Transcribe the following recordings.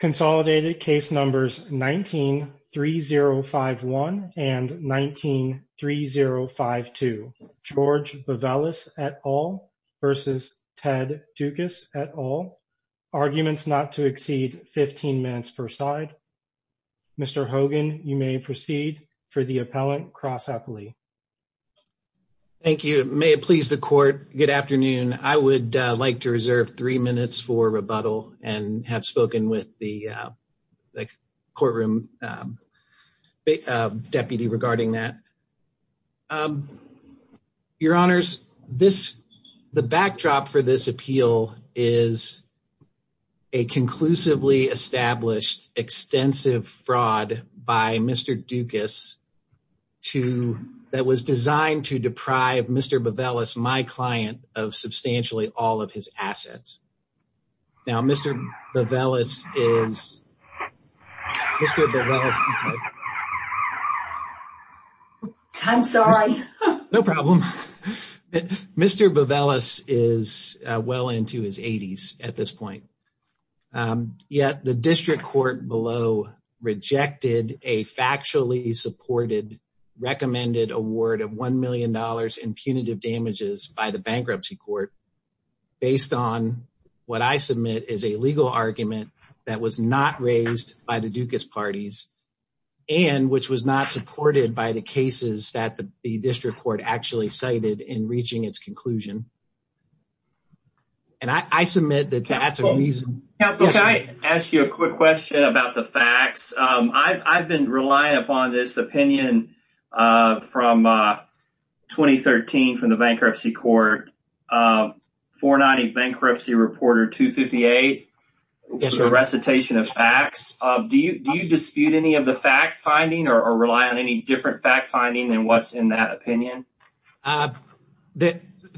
Consolidated case numbers 19-3051 and 19-3052. George Bavelis et al versus Ted Doukas et al. Arguments not to exceed 15 minutes per side. Mr. Hogan, you may proceed for the appellant cross-appellate. Thank you. May it please the court. Good afternoon. I would like to reserve three minutes for rebuttal and have spoken with the courtroom deputy regarding that. Your honors, the backdrop for this appeal is a conclusively established extensive fraud by Mr. Doukas that was designed to deprive Mr. Bavelis, my client, of substantially all of his assets. Now Mr. Bavelis is well into his 80s at this point. Yet the district court below rejected a factually supported recommended award of $1 million in punitive damages by the bankruptcy court based on what I submit is a legal argument that was not raised by the Doukas parties and which was not supported by the cases that the district court actually cited in reaching its conclusion. And I submit that that's a reason. Counselor, can I ask you a quick question about the facts? I've been relying upon this opinion from 2013 from the bankruptcy court. 490 bankruptcy reporter 258 recitation of facts. Do you dispute any of the fact finding or rely on any different fact finding than what's in that opinion?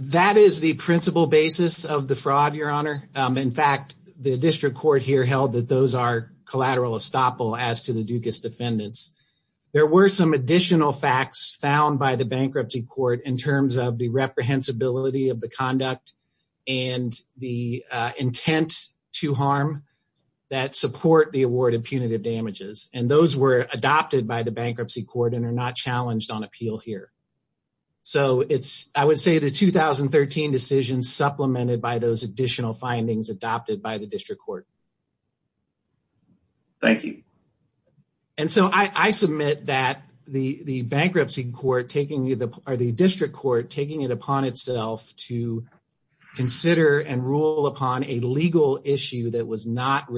That is the principal basis of the fraud, your honor. In fact, the district court here held that those are collateral estoppel as to the Doukas defendants. There were some additional facts found by the bankruptcy court in terms of the reprehensibility of the conduct and the intent to harm that support the award of punitive damages. And those were adopted by the bankruptcy court and are not challenged on appeal here. So it's I would say the 2013 decision supplemented by those additional findings adopted by the district court. Thank you. And so I submit that the bankruptcy court taking the or the district court taking it upon itself to consider and rule upon a legal issue that was not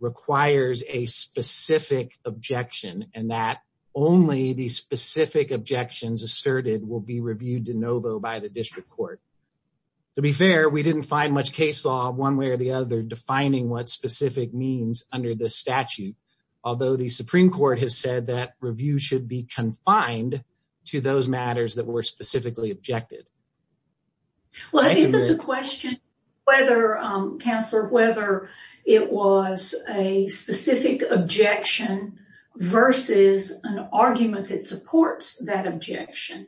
requires a specific objection and that only the specific objections asserted will be reviewed de novo by the district court. To be fair, we didn't find much case law one way or the other defining what specific means under the statute. Although the Supreme Court has said that review should be confined to those matters that were specifically objected. Well, I think that the a specific objection versus an argument that supports that objection.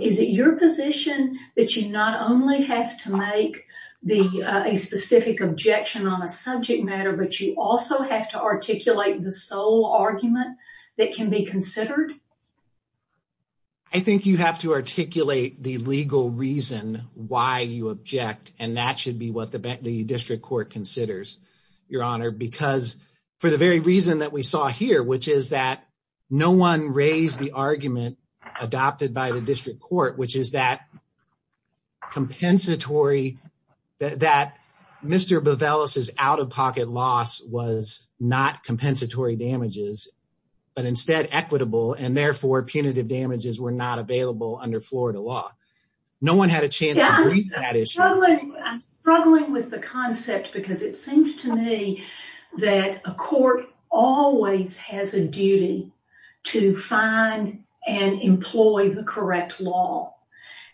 Is it your position that you not only have to make the a specific objection on a subject matter, but you also have to articulate the sole argument that can be considered? I think you have to articulate the legal reason why you object, and that should be what the district court considers, Your Honor, because for the very reason that we saw here, which is that no one raised the argument adopted by the district court, which is that compensatory that Mr. Bovelis is out of pocket loss was not compensatory damages, but instead equitable and therefore punitive damages were not available under Florida law. No one had a chance. I'm struggling with the concept because it seems to me that a court always has a duty to find and employ the correct law.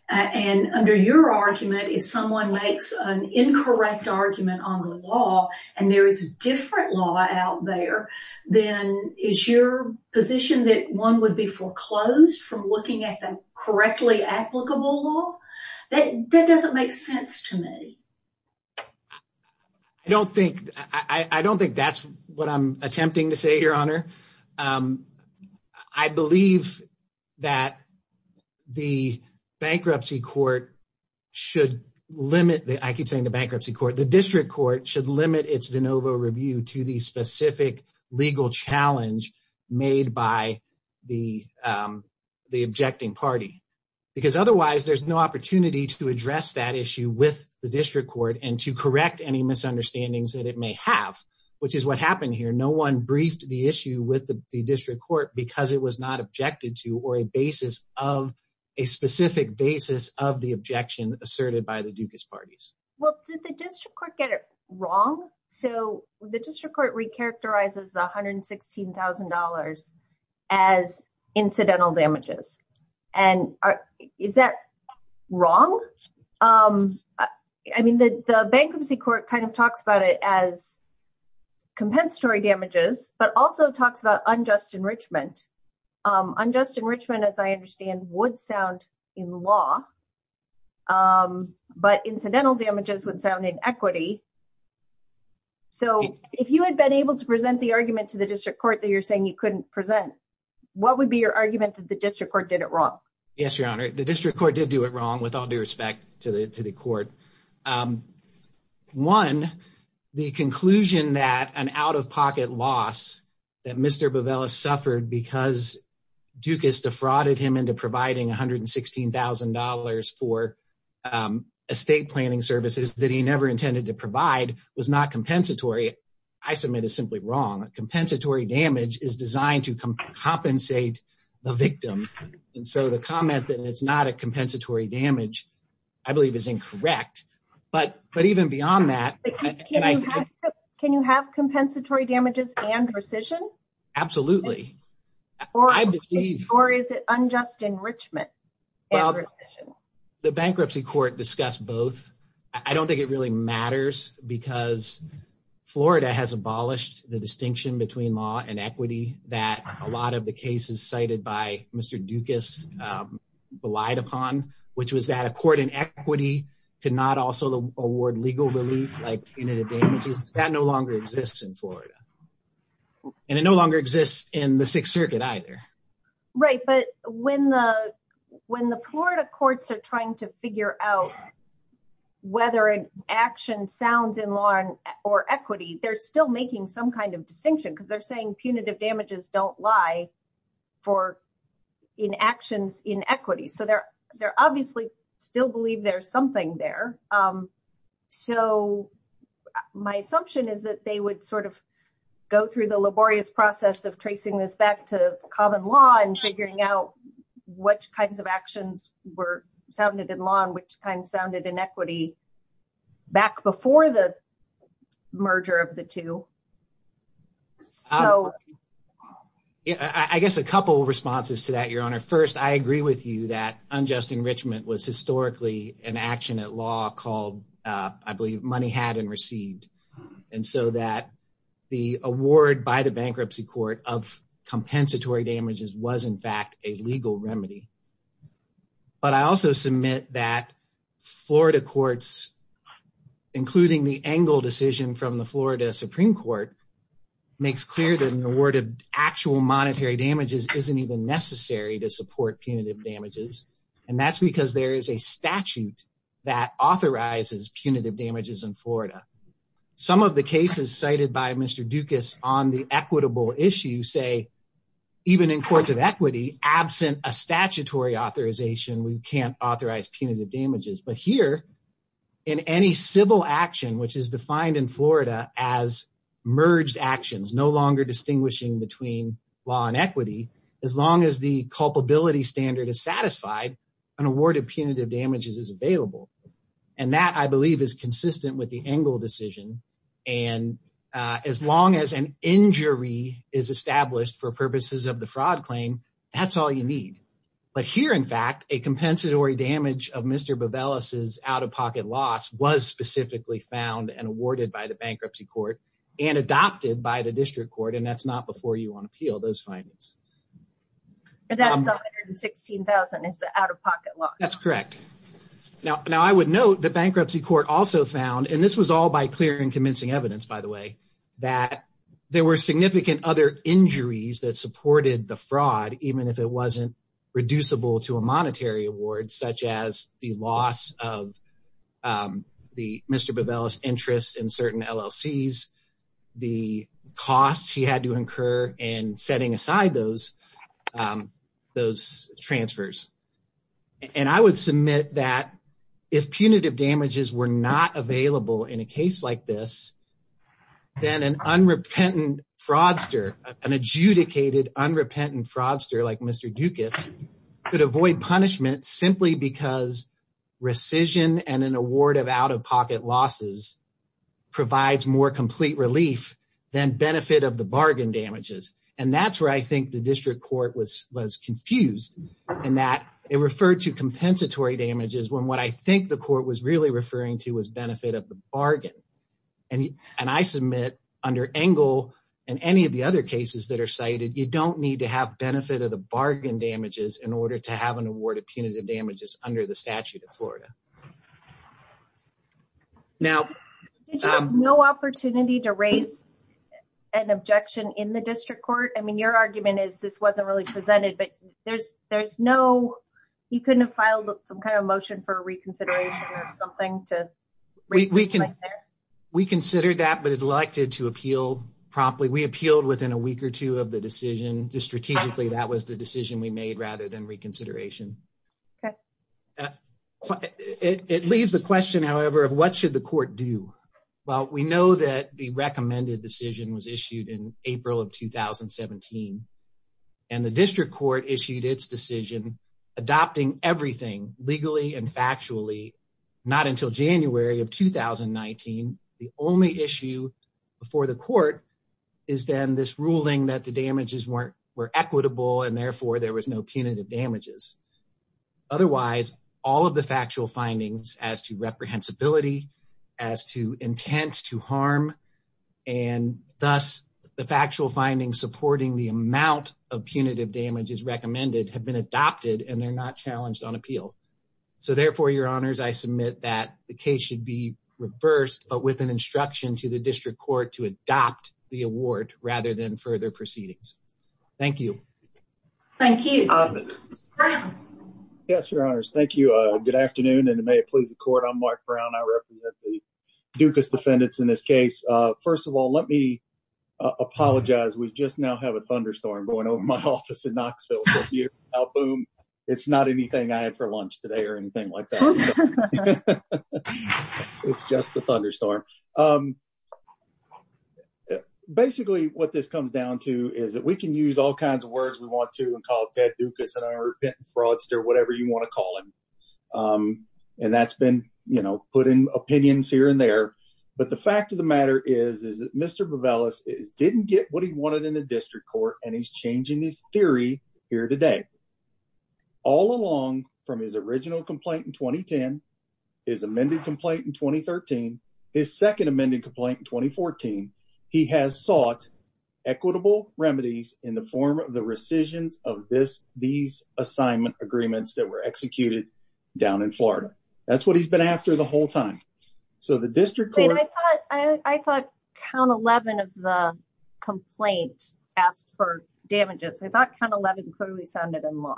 And under your argument, if someone makes an incorrect argument on the law and there is a different law out there, then is your position that one would be foreclosed from looking at them correctly? Applicable law that that doesn't make sense to me. I don't think I don't think that's what I'm attempting to say, Your Honor. I believe that the bankruptcy court should limit. I keep saying the bankruptcy court. District court should limit its de novo review to the specific legal challenge made by the objecting party, because otherwise there's no opportunity to address that issue with the district court and to correct any misunderstandings that it may have, which is what happened here. No one briefed the issue with the district court because it was not objected to or a basis of a specific basis of the objection asserted by the Dukas parties. Well, did the district court get it wrong? So the district court recharacterizes the one hundred and sixteen thousand dollars as incidental damages. And is that wrong? I mean, the bankruptcy court kind of talks about it as compensatory damages, but also talks about unjust enrichment. Unjust enrichment, as I understand, would sound in law, but incidental damages would sound in equity. So if you had been able to present the argument to the district court that you're saying you couldn't present, what would be your argument that the district court did it wrong? Yes, Your Honor, the district court did do it wrong with all due respect to the to the court. Um, one, the conclusion that an out of pocket loss that Mr. Bovelis suffered because Dukas defrauded him into providing one hundred and sixteen thousand dollars for estate planning services that he never intended to provide was not compensatory. I submit is simply wrong. Compensatory damage is designed to compensate the victim. And so the comment that it's not a compensatory damage, I believe, is incorrect. But but even beyond that, can you have compensatory damages and rescission? Absolutely. Or is it unjust enrichment? The bankruptcy court discussed both. I don't think it really matters because Florida has abolished the distinction between law and equity that a lot of the cases cited by Mr. Dukas relied upon, which was that a court in equity cannot also award legal relief like punitive damages that no longer exists in Florida. And it no longer exists in the Sixth Circuit either. Right. But when the when the Florida courts are trying to figure out whether an action sounds in law or equity, they're still making some kind of distinction because they're saying punitive damages don't lie for in actions in equity. So they're they're obviously still believe there's something there. So my assumption is that they would sort of go through the laborious process of tracing this back to common law and figuring out which kinds of actions were sounded in law and which kind sounded in equity back before the merger of the two. So I guess a couple of responses to that, Your Honor. First, I agree with you that unjust enrichment was historically an action at law called, I believe, money had and received. And so that the award by the bankruptcy court of compensatory damages was, in fact, a legal remedy. But I also submit that Florida courts, including the Engle decision from the Florida Supreme Court, makes clear that an award of actual monetary damages isn't even necessary to support punitive damages. And that's because there is a statute that authorizes punitive damages in Florida. Some of the cases cited by Mr. Dukas on the equitable issue say, even in courts of equity, absent a statutory authorization, we can't authorize punitive damages. But here, in any civil action, which is defined in Florida as merged actions, no longer distinguishing between law and equity, as long as the culpability standard is satisfied, an award of punitive damages is available. And that, I believe, is consistent with the Engle decision. And as long as an injury is established for purposes of the fraud claim, that's all you need. But here, in fact, a compensatory damage of Mr. Bevelis' out-of-pocket loss was specifically found and awarded by the bankruptcy court and adopted by the district court. And that's not before you on appeal, those findings. And that's 116,000 is the out-of-pocket loss. That's correct. Now, I would note the bankruptcy court also found, and this was all by clear and convincing evidence, by the way, that there were significant other injuries that supported the fraud, even if it wasn't reducible to a monetary award, such as the loss of Mr. Bevelis' interest in certain LLCs, the costs he had to incur in setting aside those transfers. And I would submit that if punitive damages were not available in a case like this, then an unrepentant fraudster, an adjudicated unrepentant fraudster like Mr. Dukas, could avoid punishment simply because rescission and an award of out-of-pocket losses provides more complete relief than benefit of the bargain damages. And that's where I think the district court was confused in that it referred to compensatory damages when what I think the court was really referring to was benefit of the bargain. And I submit under Engel and any of the other cases that are cited, you don't need to have benefit of the bargain damages in order to have an award of punitive damages under the statute of Florida. Did you have no opportunity to raise an objection in the district court? I mean, argument is this wasn't really presented, but there's no, you couldn't have filed some kind of motion for reconsideration or something to reconsider? We considered that, but it elected to appeal promptly. We appealed within a week or two of the decision. Just strategically, that was the decision we made rather than reconsideration. Okay. It leaves the question, however, of what should the court do? Well, we know that the recommended decision was issued in January of 2017, and the district court issued its decision, adopting everything legally and factually, not until January of 2019. The only issue before the court is then this ruling that the damages weren't, were equitable and therefore there was no punitive damages. Otherwise all of the factual findings as to reprehensibility, as to intent to harm, and thus the factual findings supporting the amount of punitive damages recommended have been adopted and they're not challenged on appeal. So therefore, your honors, I submit that the case should be reversed, but with an instruction to the district court to adopt the award rather than further proceedings. Thank you. Thank you. Yes, your honors. Thank you. Good afternoon and may it please the court. I'm Mark Brown. I represent the Dukas defendants in this case. First of all, let me apologize. We just now have a thunderstorm going over my office in Knoxville. Boom. It's not anything I had for lunch today or anything like that. It's just the thunderstorm. Basically, what this comes down to is that we can use all kinds of words we want to and call Ted Dukas an arrogant fraudster, whatever you want to call him. Um, and that's been, you know, putting opinions here and there. But the fact of the matter is, is that Mr. Bovelis is didn't get what he wanted in the district court and he's changing his theory here today. All along from his original complaint in 2010, his amended complaint in 2013, his second amended complaint in 2014, he has sought equitable remedies in the form of the assignment agreements that were executed down in florida. That's what he's been after the whole time. So the district court, I thought count 11 of the complaint asked for damages. I thought kind of 11 clearly sounded in law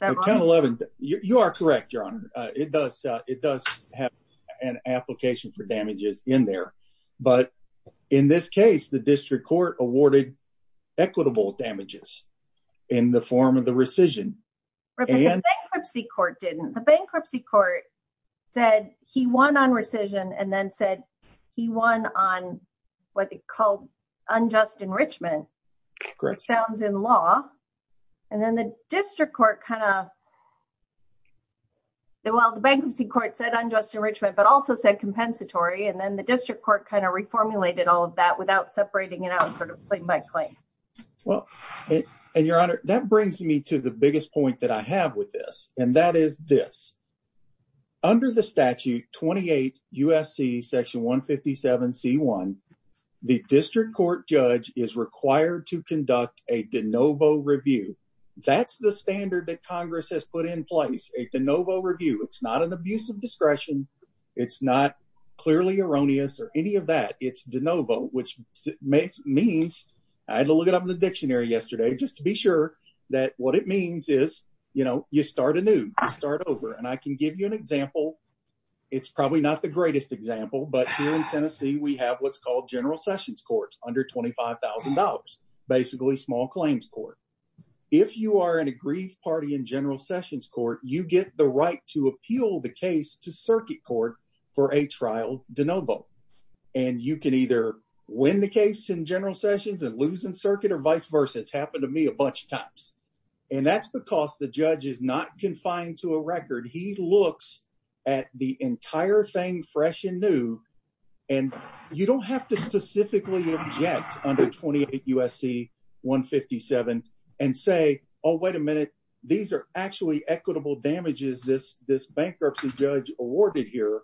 11. You are correct, your honor. It does. It does have an application for damages in there. But in this case, the district court awarded equitable damages in the form of the rescission bankruptcy court didn't the bankruptcy court said he won on rescission and then said he won on what they called unjust enrichment sounds in law. And then the district court kind of the while the bankruptcy court said unjust enrichment, but also said compensatory. And then the district court kind of reformulated all of that without separating it out sort of thing by claim. Well, and your honor, that brings me to the biggest point that I have with this. And that is this under the statute 28 U. S. C. Section 1 57 C. One. The district court judge is required to conduct a de novo review. That's the standard that Congress has put in place a de novo review. It's not an abuse of discretion. It's not clearly erroneous or any of that. It's de novo, which means I had to look it up in the dictionary yesterday just to be sure that what it means is, you know, you start a new start over and I can give you an example. It's probably not the greatest example. But here in Tennessee, we have what's called General Sessions courts under $25,000. Basically small claims court. If you are in a grief party in General Sessions court, you get the right to appeal the case to circuit court for a trial de novo. And you can either win the case in General Sessions and losing circuit or vice versa. It's happened to me a bunch of times. And that's because the judge is not confined to a record. He looks at the entire thing fresh and new and you don't have to specifically object under 28 U. S. C. 1 57 and say, Oh, wait a minute. These are actually equitable damages. This bankruptcy judge awarded here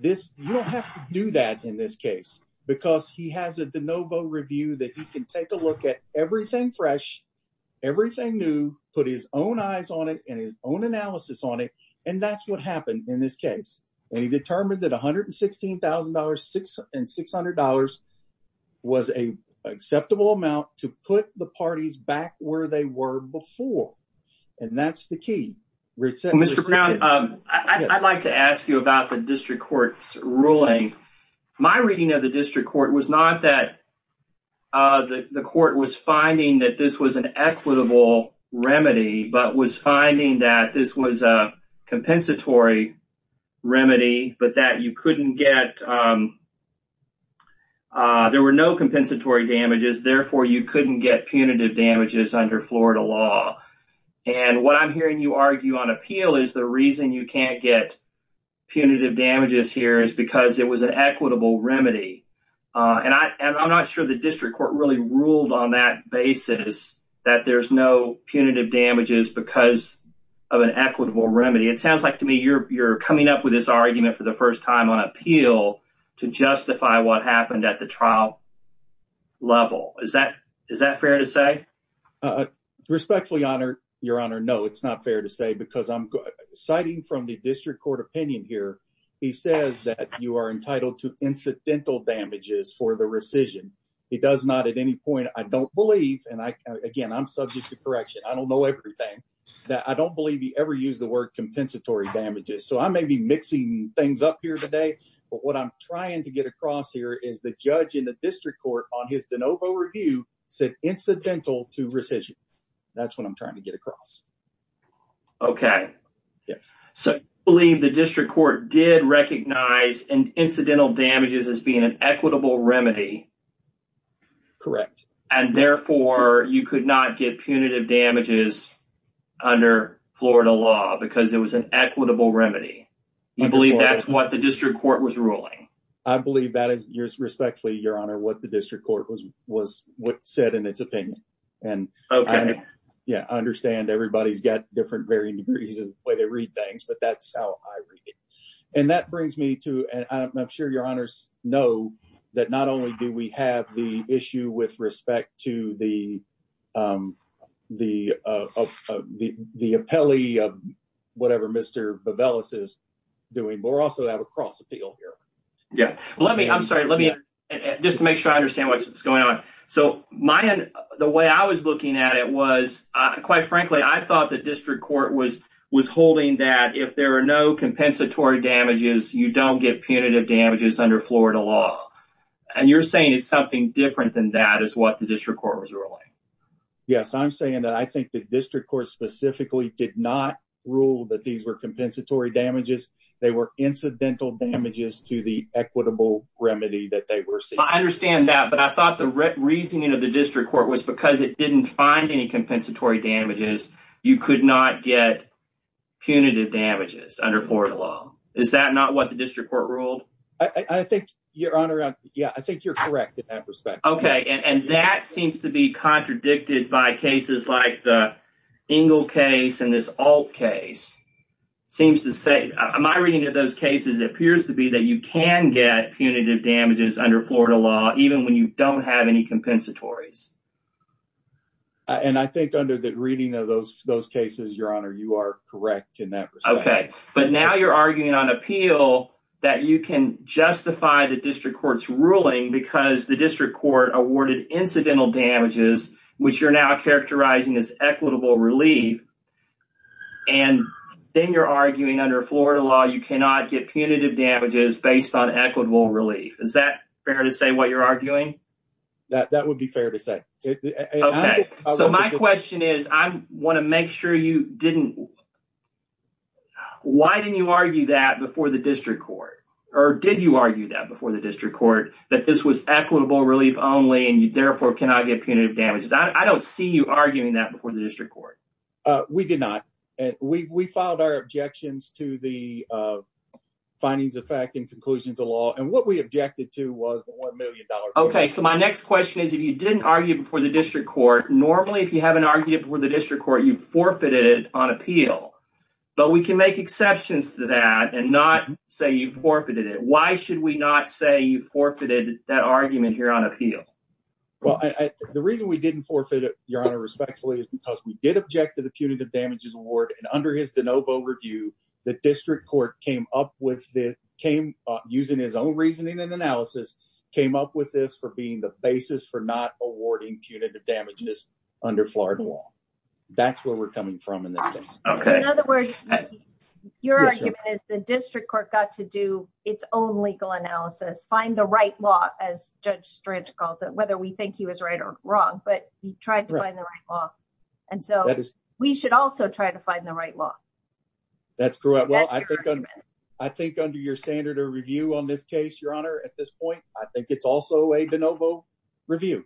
this. You don't have to do that in this case because he has a de novo review that you can take a look at everything fresh, everything new, put his own eyes on it and his own analysis on it. And that's what happened in this case. And he determined that $116,000 and $600 was a acceptable amount to put the parties back where they were before. And that's key. Mr Brown, I'd like to ask you about the district court's ruling. My reading of the district court was not that the court was finding that this was an equitable remedy, but was finding that this was a compensatory remedy. But that you couldn't get there were no compensatory damages. Therefore, you couldn't get punitive damages under Florida law. And what I'm hearing you argue on appeal is the reason you can't get punitive damages here is because it was an equitable remedy. And I'm not sure the district court really ruled on that basis that there's no punitive damages because of an equitable remedy. It sounds like to me you're coming up with this argument for the first time on appeal to justify what happened at the trial level. Is that fair to say? Respectfully honored, Your Honor. No, it's not fair to say because I'm citing from the district court opinion here. He says that you are entitled to incidental damages for the rescission. He does not at any point. I don't believe and again, I'm subject to correction. I don't know everything that I don't believe he ever used the word compensatory damages. So I may be mixing things up here today. But what I'm district court on his de novo review said incidental to rescission. That's what I'm trying to get across. Okay. Yes. So believe the district court did recognize and incidental damages as being an equitable remedy. Correct. And therefore, you could not get punitive damages under Florida law because it was an equitable remedy. I believe that's what the district court was ruling. I believe that is respectfully, Your Honor, what the district court was, was what said in its opinion. And okay, yeah, I understand everybody's got different varying degrees and where they read things. But that's how I read it. And that brings me to and I'm sure Your Honor's know that not only do we have the issue with respect to the the the appellee of Mr Babel is doing more also have a cross appeal here. Yeah, let me I'm sorry, let me just make sure I understand what's going on. So my the way I was looking at it was, quite frankly, I thought the district court was was holding that if there are no compensatory damages, you don't get punitive damages under Florida law. And you're saying it's something different than that is what the district court was ruling. Yes, I'm saying that I think the district court specifically did not rule that these were compensatory damages. They were incidental damages to the equitable remedy that they were saying. I understand that. But I thought the reasoning of the district court was because it didn't find any compensatory damages. You could not get punitive damages under Florida law. Is that not what the district court ruled? I think Your Honor. Yeah, I think you're correct in that respect. Okay. And that seems to be in this all case seems to say my reading of those cases appears to be that you can get punitive damages under Florida law, even when you don't have any compensatories. And I think under the reading of those those cases, Your Honor, you are correct in that. Okay, but now you're arguing on appeal that you can justify the district court's ruling because the district court awarded incidental damages, which you're now characterizing as equitable relief. And then you're arguing under Florida law, you cannot get punitive damages based on equitable relief. Is that fair to say what you're arguing? That would be fair to say. Okay, so my question is, I want to make sure you didn't. Why didn't you argue that before the and you therefore cannot get punitive damages? I don't see you arguing that before the district court. We did not. We filed our objections to the findings of fact and conclusions of law. And what we objected to was the $1 million. Okay, so my next question is, if you didn't argue before the district court, normally, if you haven't argued before the district court, you forfeited on appeal. But we can make exceptions to that and not say you forfeited it. Why should we not say you forfeited that argument here on appeal? Well, the reason we didn't forfeit it, Your Honor, respectfully, is because we did object to the punitive damages award. And under his de novo review, the district court came up with this, using his own reasoning and analysis, came up with this for being the basis for not awarding punitive damages under Florida law. That's where we're coming from in this case. In other words, your argument is the district court got to do its own legal analysis, find the right law, as Judge Strange calls it, whether we think he was right or wrong, but he tried to find the right law. And so we should also try to find the right law. That's correct. Well, I think under your standard of review on this case, Your Honor, at this point, I think it's also a de novo review.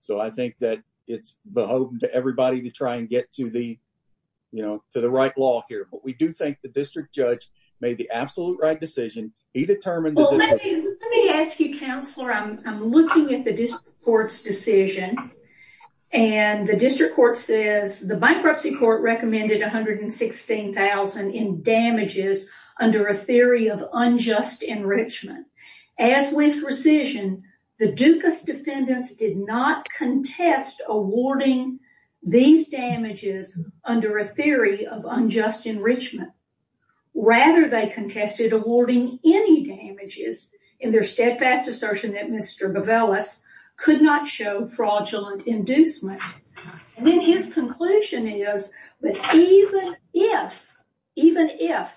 So I think that it's beholden to everybody to try and get to the, you know, to the right law here. But we do think the district judge made the absolute right decision. He determined. Let me ask you, Counselor, I'm looking at the district court's decision. And the district court says the bankruptcy court recommended $116,000 in damages under a theory of unjust enrichment. As with rescission, the Dukas defendants did not contest awarding these damages under a theory of unjust enrichment. Rather, they contested awarding any damages in their steadfast assertion that Mr. Govellis could not show fraudulent inducement. And then his conclusion is that even if, even if,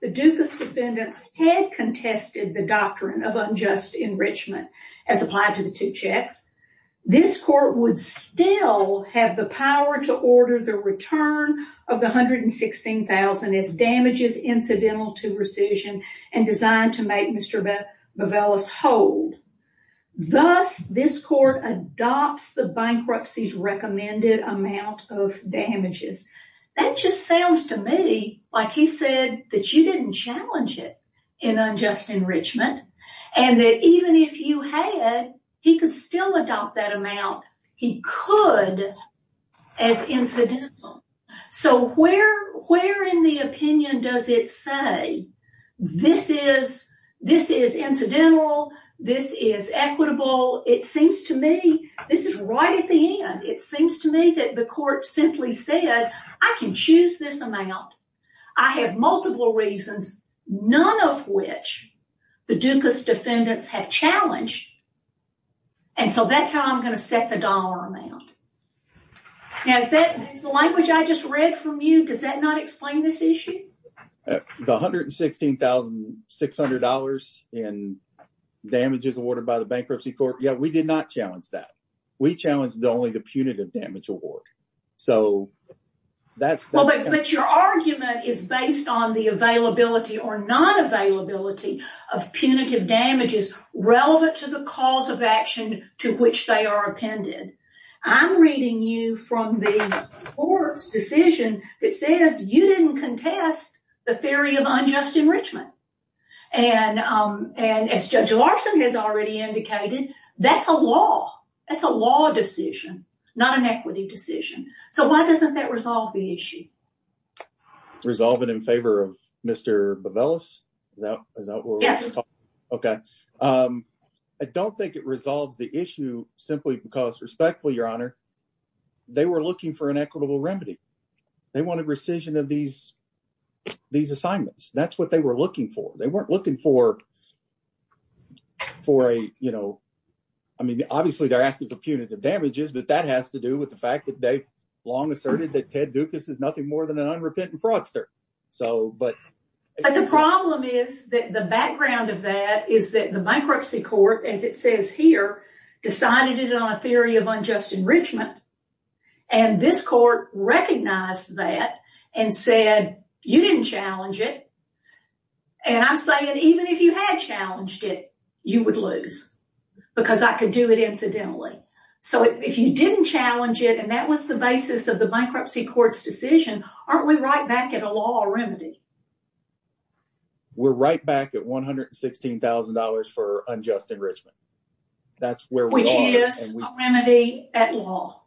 the Dukas defendants had contested the doctrine of unjust enrichment as applied to the two checks, this court would still have the power to order the return of the $116,000 as damages incidental to rescission and designed to make Mr. Govellis hold. Thus, this court adopts the that you didn't challenge it in unjust enrichment, and that even if you had, he could still adopt that amount. He could as incidental. So where, where in the opinion does it say this is, this is incidental, this is equitable? It seems to me, this is right at the reasons, none of which the Dukas defendants have challenged. And so that's how I'm going to set the dollar amount. Now is that, is the language I just read from you, does that not explain this issue? The $116,600 in damages awarded by the Bankruptcy Court, yeah, we did not challenge that. We challenged only the punitive damage award. So that's. But your argument is based on the availability or non-availability of punitive damages relevant to the cause of action to which they are appended. I'm reading you from the court's decision that says you didn't contest the theory of unjust enrichment. And as Judge Larson has already indicated, that's a law. That's a law decision, not an equity decision. So why doesn't that resolve the issue? Resolve it in favor of Mr. Bovellos? Yes. Okay. I don't think it resolves the issue simply because respectfully, Your Honor, they were looking for an equitable remedy. They wanted rescission of these, these assignments. That's what they were looking for. They weren't looking for, for a, you know, I mean, obviously they're asking for punitive damages, but that has to do with the fact that they've long asserted that Ted Dukas is nothing more than an unrepentant fraudster. So, but. But the problem is that the background of that is that the Bankruptcy Court, as it says here, decided it on a theory of unjust enrichment. And this court recognized that and said you didn't challenge it. And I'm saying even if you had challenged it, you would lose because I could do it incidentally. So if you didn't challenge it and that was the basis of the Bankruptcy Court's decision, aren't we right back at a law or remedy? We're right back at $116,000 for unjust enrichment. That's where we are. Which is a remedy at law.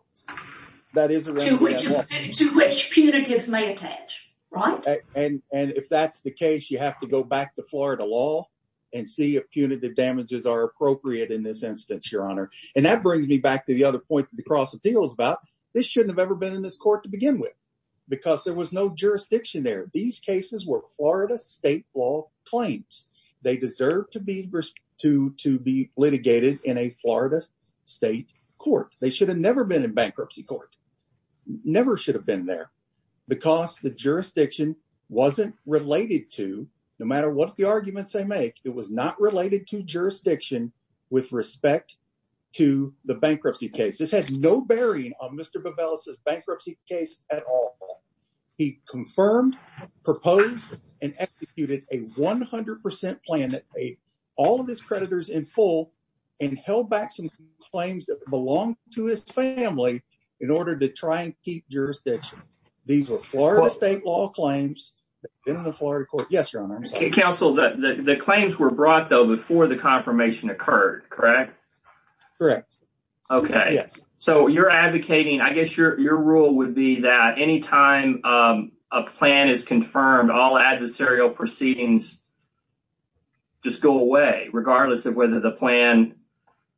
That is a remedy at law. To which, to which punitives may attach, right? And, and if that's the case, you have to go back to Florida law and see if punitive damages are appropriate in this instance, your honor. And that brings me back to the other point that the cross appeal is about. This shouldn't have ever been in this court to begin with because there was no jurisdiction there. These cases were Florida state law claims. They deserve to be, to, to be litigated in a Florida state court. They should have never been in Bankruptcy Court. Never should have been there because the jurisdiction wasn't related to, no matter what the arguments they make, it was not related to jurisdiction with respect to the bankruptcy case. This had no bearing on Mr. Bevelis's bankruptcy case at all. He confirmed, proposed, and executed a 100% plan that paid all of his creditors in full and held back some claims that belonged to his family in order to keep jurisdiction. These were Florida state law claims in the Florida court. Yes, your honor. Counsel, the claims were brought though before the confirmation occurred, correct? Correct. Okay. Yes. So you're advocating, I guess your, your rule would be that anytime a plan is confirmed, all adversarial proceedings just go away regardless of whether the plan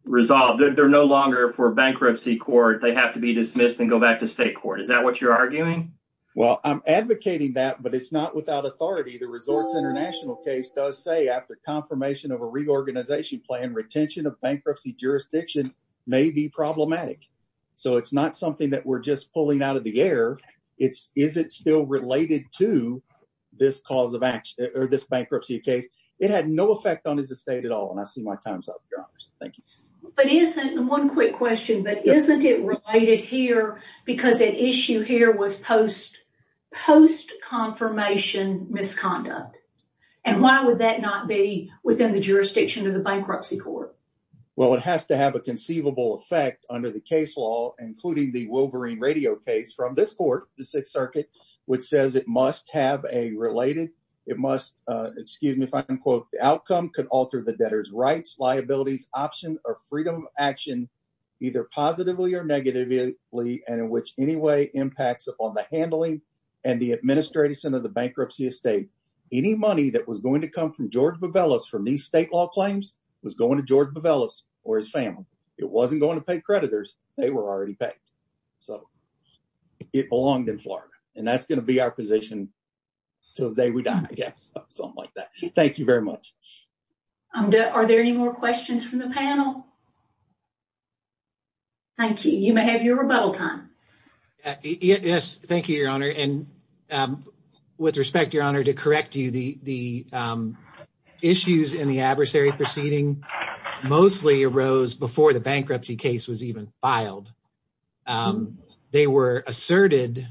resolved. They're no longer for bankruptcy court. They have to be dismissed and go back to state court. Is that what you're arguing? Well, I'm advocating that, but it's not without authority. The Resorts International case does say after confirmation of a reorganization plan, retention of bankruptcy jurisdiction may be problematic. So it's not something that we're just pulling out of the air. It's, is it still related to this cause of action or this bankruptcy case? It had no effect on his estate at all. And I see my time's up, your honors. Thank you. But isn't, one quick question, but isn't it related here because at issue here was post, post-confirmation misconduct. And why would that not be within the jurisdiction of the bankruptcy court? Well, it has to have a conceivable effect under the case law, including the Wolverine Radio case from this court, the sixth circuit, which says it must have a related, it must, excuse me, if I can quote, the outcome could alter the debtor's rights, liabilities, option, or freedom of action, either positively or negatively, and in which any way impacts upon the handling and the administrative center of the bankruptcy estate. Any money that was going to come from George Bovellos from these state law claims was going to George Bovellos or his family. It wasn't going to pay creditors. They were already paid. So it belonged in Florida, and that's going to be our position till the day we die, I guess, something like that. Thank you very much. Are there any more questions from the panel? Thank you. You may have your rebuttal time. Yes. Thank you, your honor. And with respect, to correct you, the issues in the adversary proceeding mostly arose before the bankruptcy case was even filed. They were asserted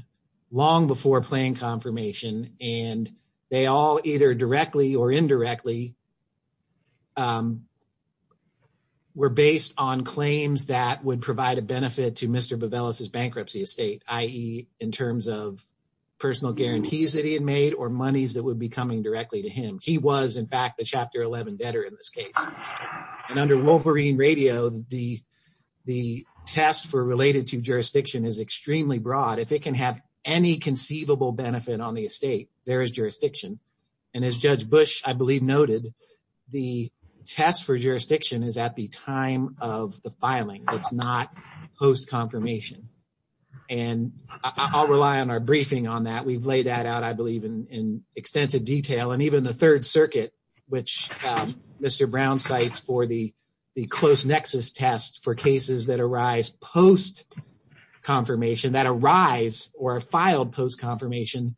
long before plan confirmation, and they all either directly or indirectly were based on claims that would provide a benefit to Mr. Bovellos' bankruptcy estate, i.e., in terms of personal guarantees that he had made or monies that would be coming directly to him. He was, in fact, the Chapter 11 debtor in this case. And under Wolverine Radio, the test for related to jurisdiction is extremely broad. If it can have any conceivable benefit on the estate, there is jurisdiction. And as Judge Bush, I believe, noted, the test for jurisdiction is at the time of the filing. It's not post-confirmation. And I'll rely on our briefing on that. We've laid that out, I believe, in extensive detail. And even the Third Circuit, which Mr. Brown cites for the close nexus test for cases that arise post-confirmation, that arise or are filed post-confirmation,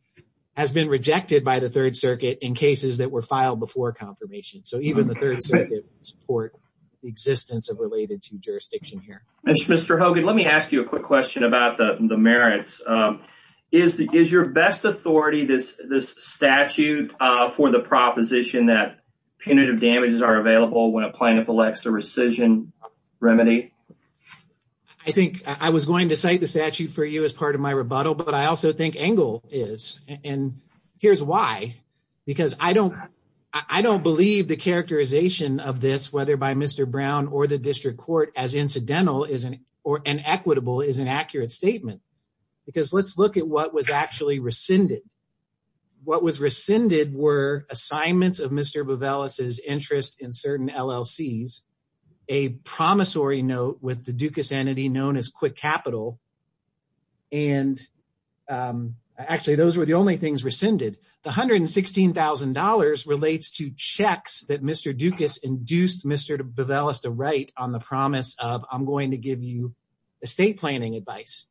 has been rejected by the Third Circuit in cases that were filed before confirmation. So even the Third Circuit would support the existence of related to jurisdiction here. Mr. Hogan, let me ask you a quick question about the merits. Is your best authority this statute for the proposition that punitive damages are available when a plaintiff elects a rescission remedy? I think I was going to cite the statute for you as part of my rebuttal, but I also think Engle is. And here's why. Because I don't believe the characterization of this, whether by Mr. Brown or the district court, as incidental or inequitable is an accurate statement. Because let's look at what was actually rescinded. What was rescinded were assignments of Mr. Bovelis's interest in certain LLCs, a promissory note with the Dukas entity known as Bovelis. Actually, those were the only things rescinded. The $116,000 relates to checks that Mr. Dukas induced Mr. Bovelis to write on the promise of, I'm going to give you estate planning advice.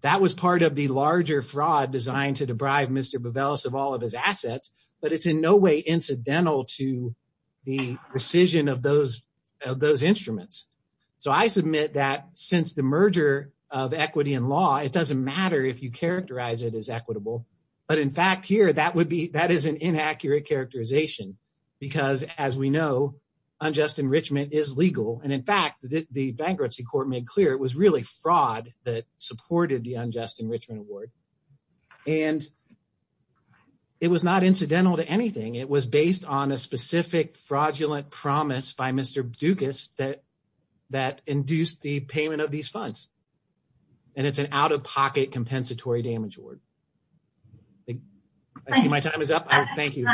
That was part of the larger fraud designed to deprive Mr. Bovelis of all of his assets, but it's in no way incidental to the rescission of those instruments. So I submit that since the characterization is equitable. But in fact, here, that is an inaccurate characterization. Because as we know, unjust enrichment is legal. And in fact, the bankruptcy court made clear it was really fraud that supported the unjust enrichment award. And it was not incidental to anything. It was based on a specific fraudulent promise by Mr. Dukas that induced the payment of these funds. And it's an out-of-pocket compensatory damage award. I see my time is up. Thank you.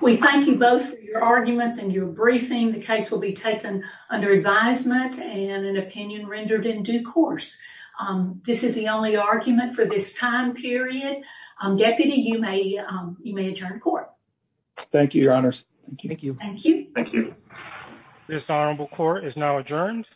We thank you both for your arguments and your briefing. The case will be taken under advisement and an opinion rendered in due course. This is the only argument for this time period. Deputy, you may adjourn court. Thank you, your honors. Thank you. Thank you. Thank you. This honorable court is now adjourned.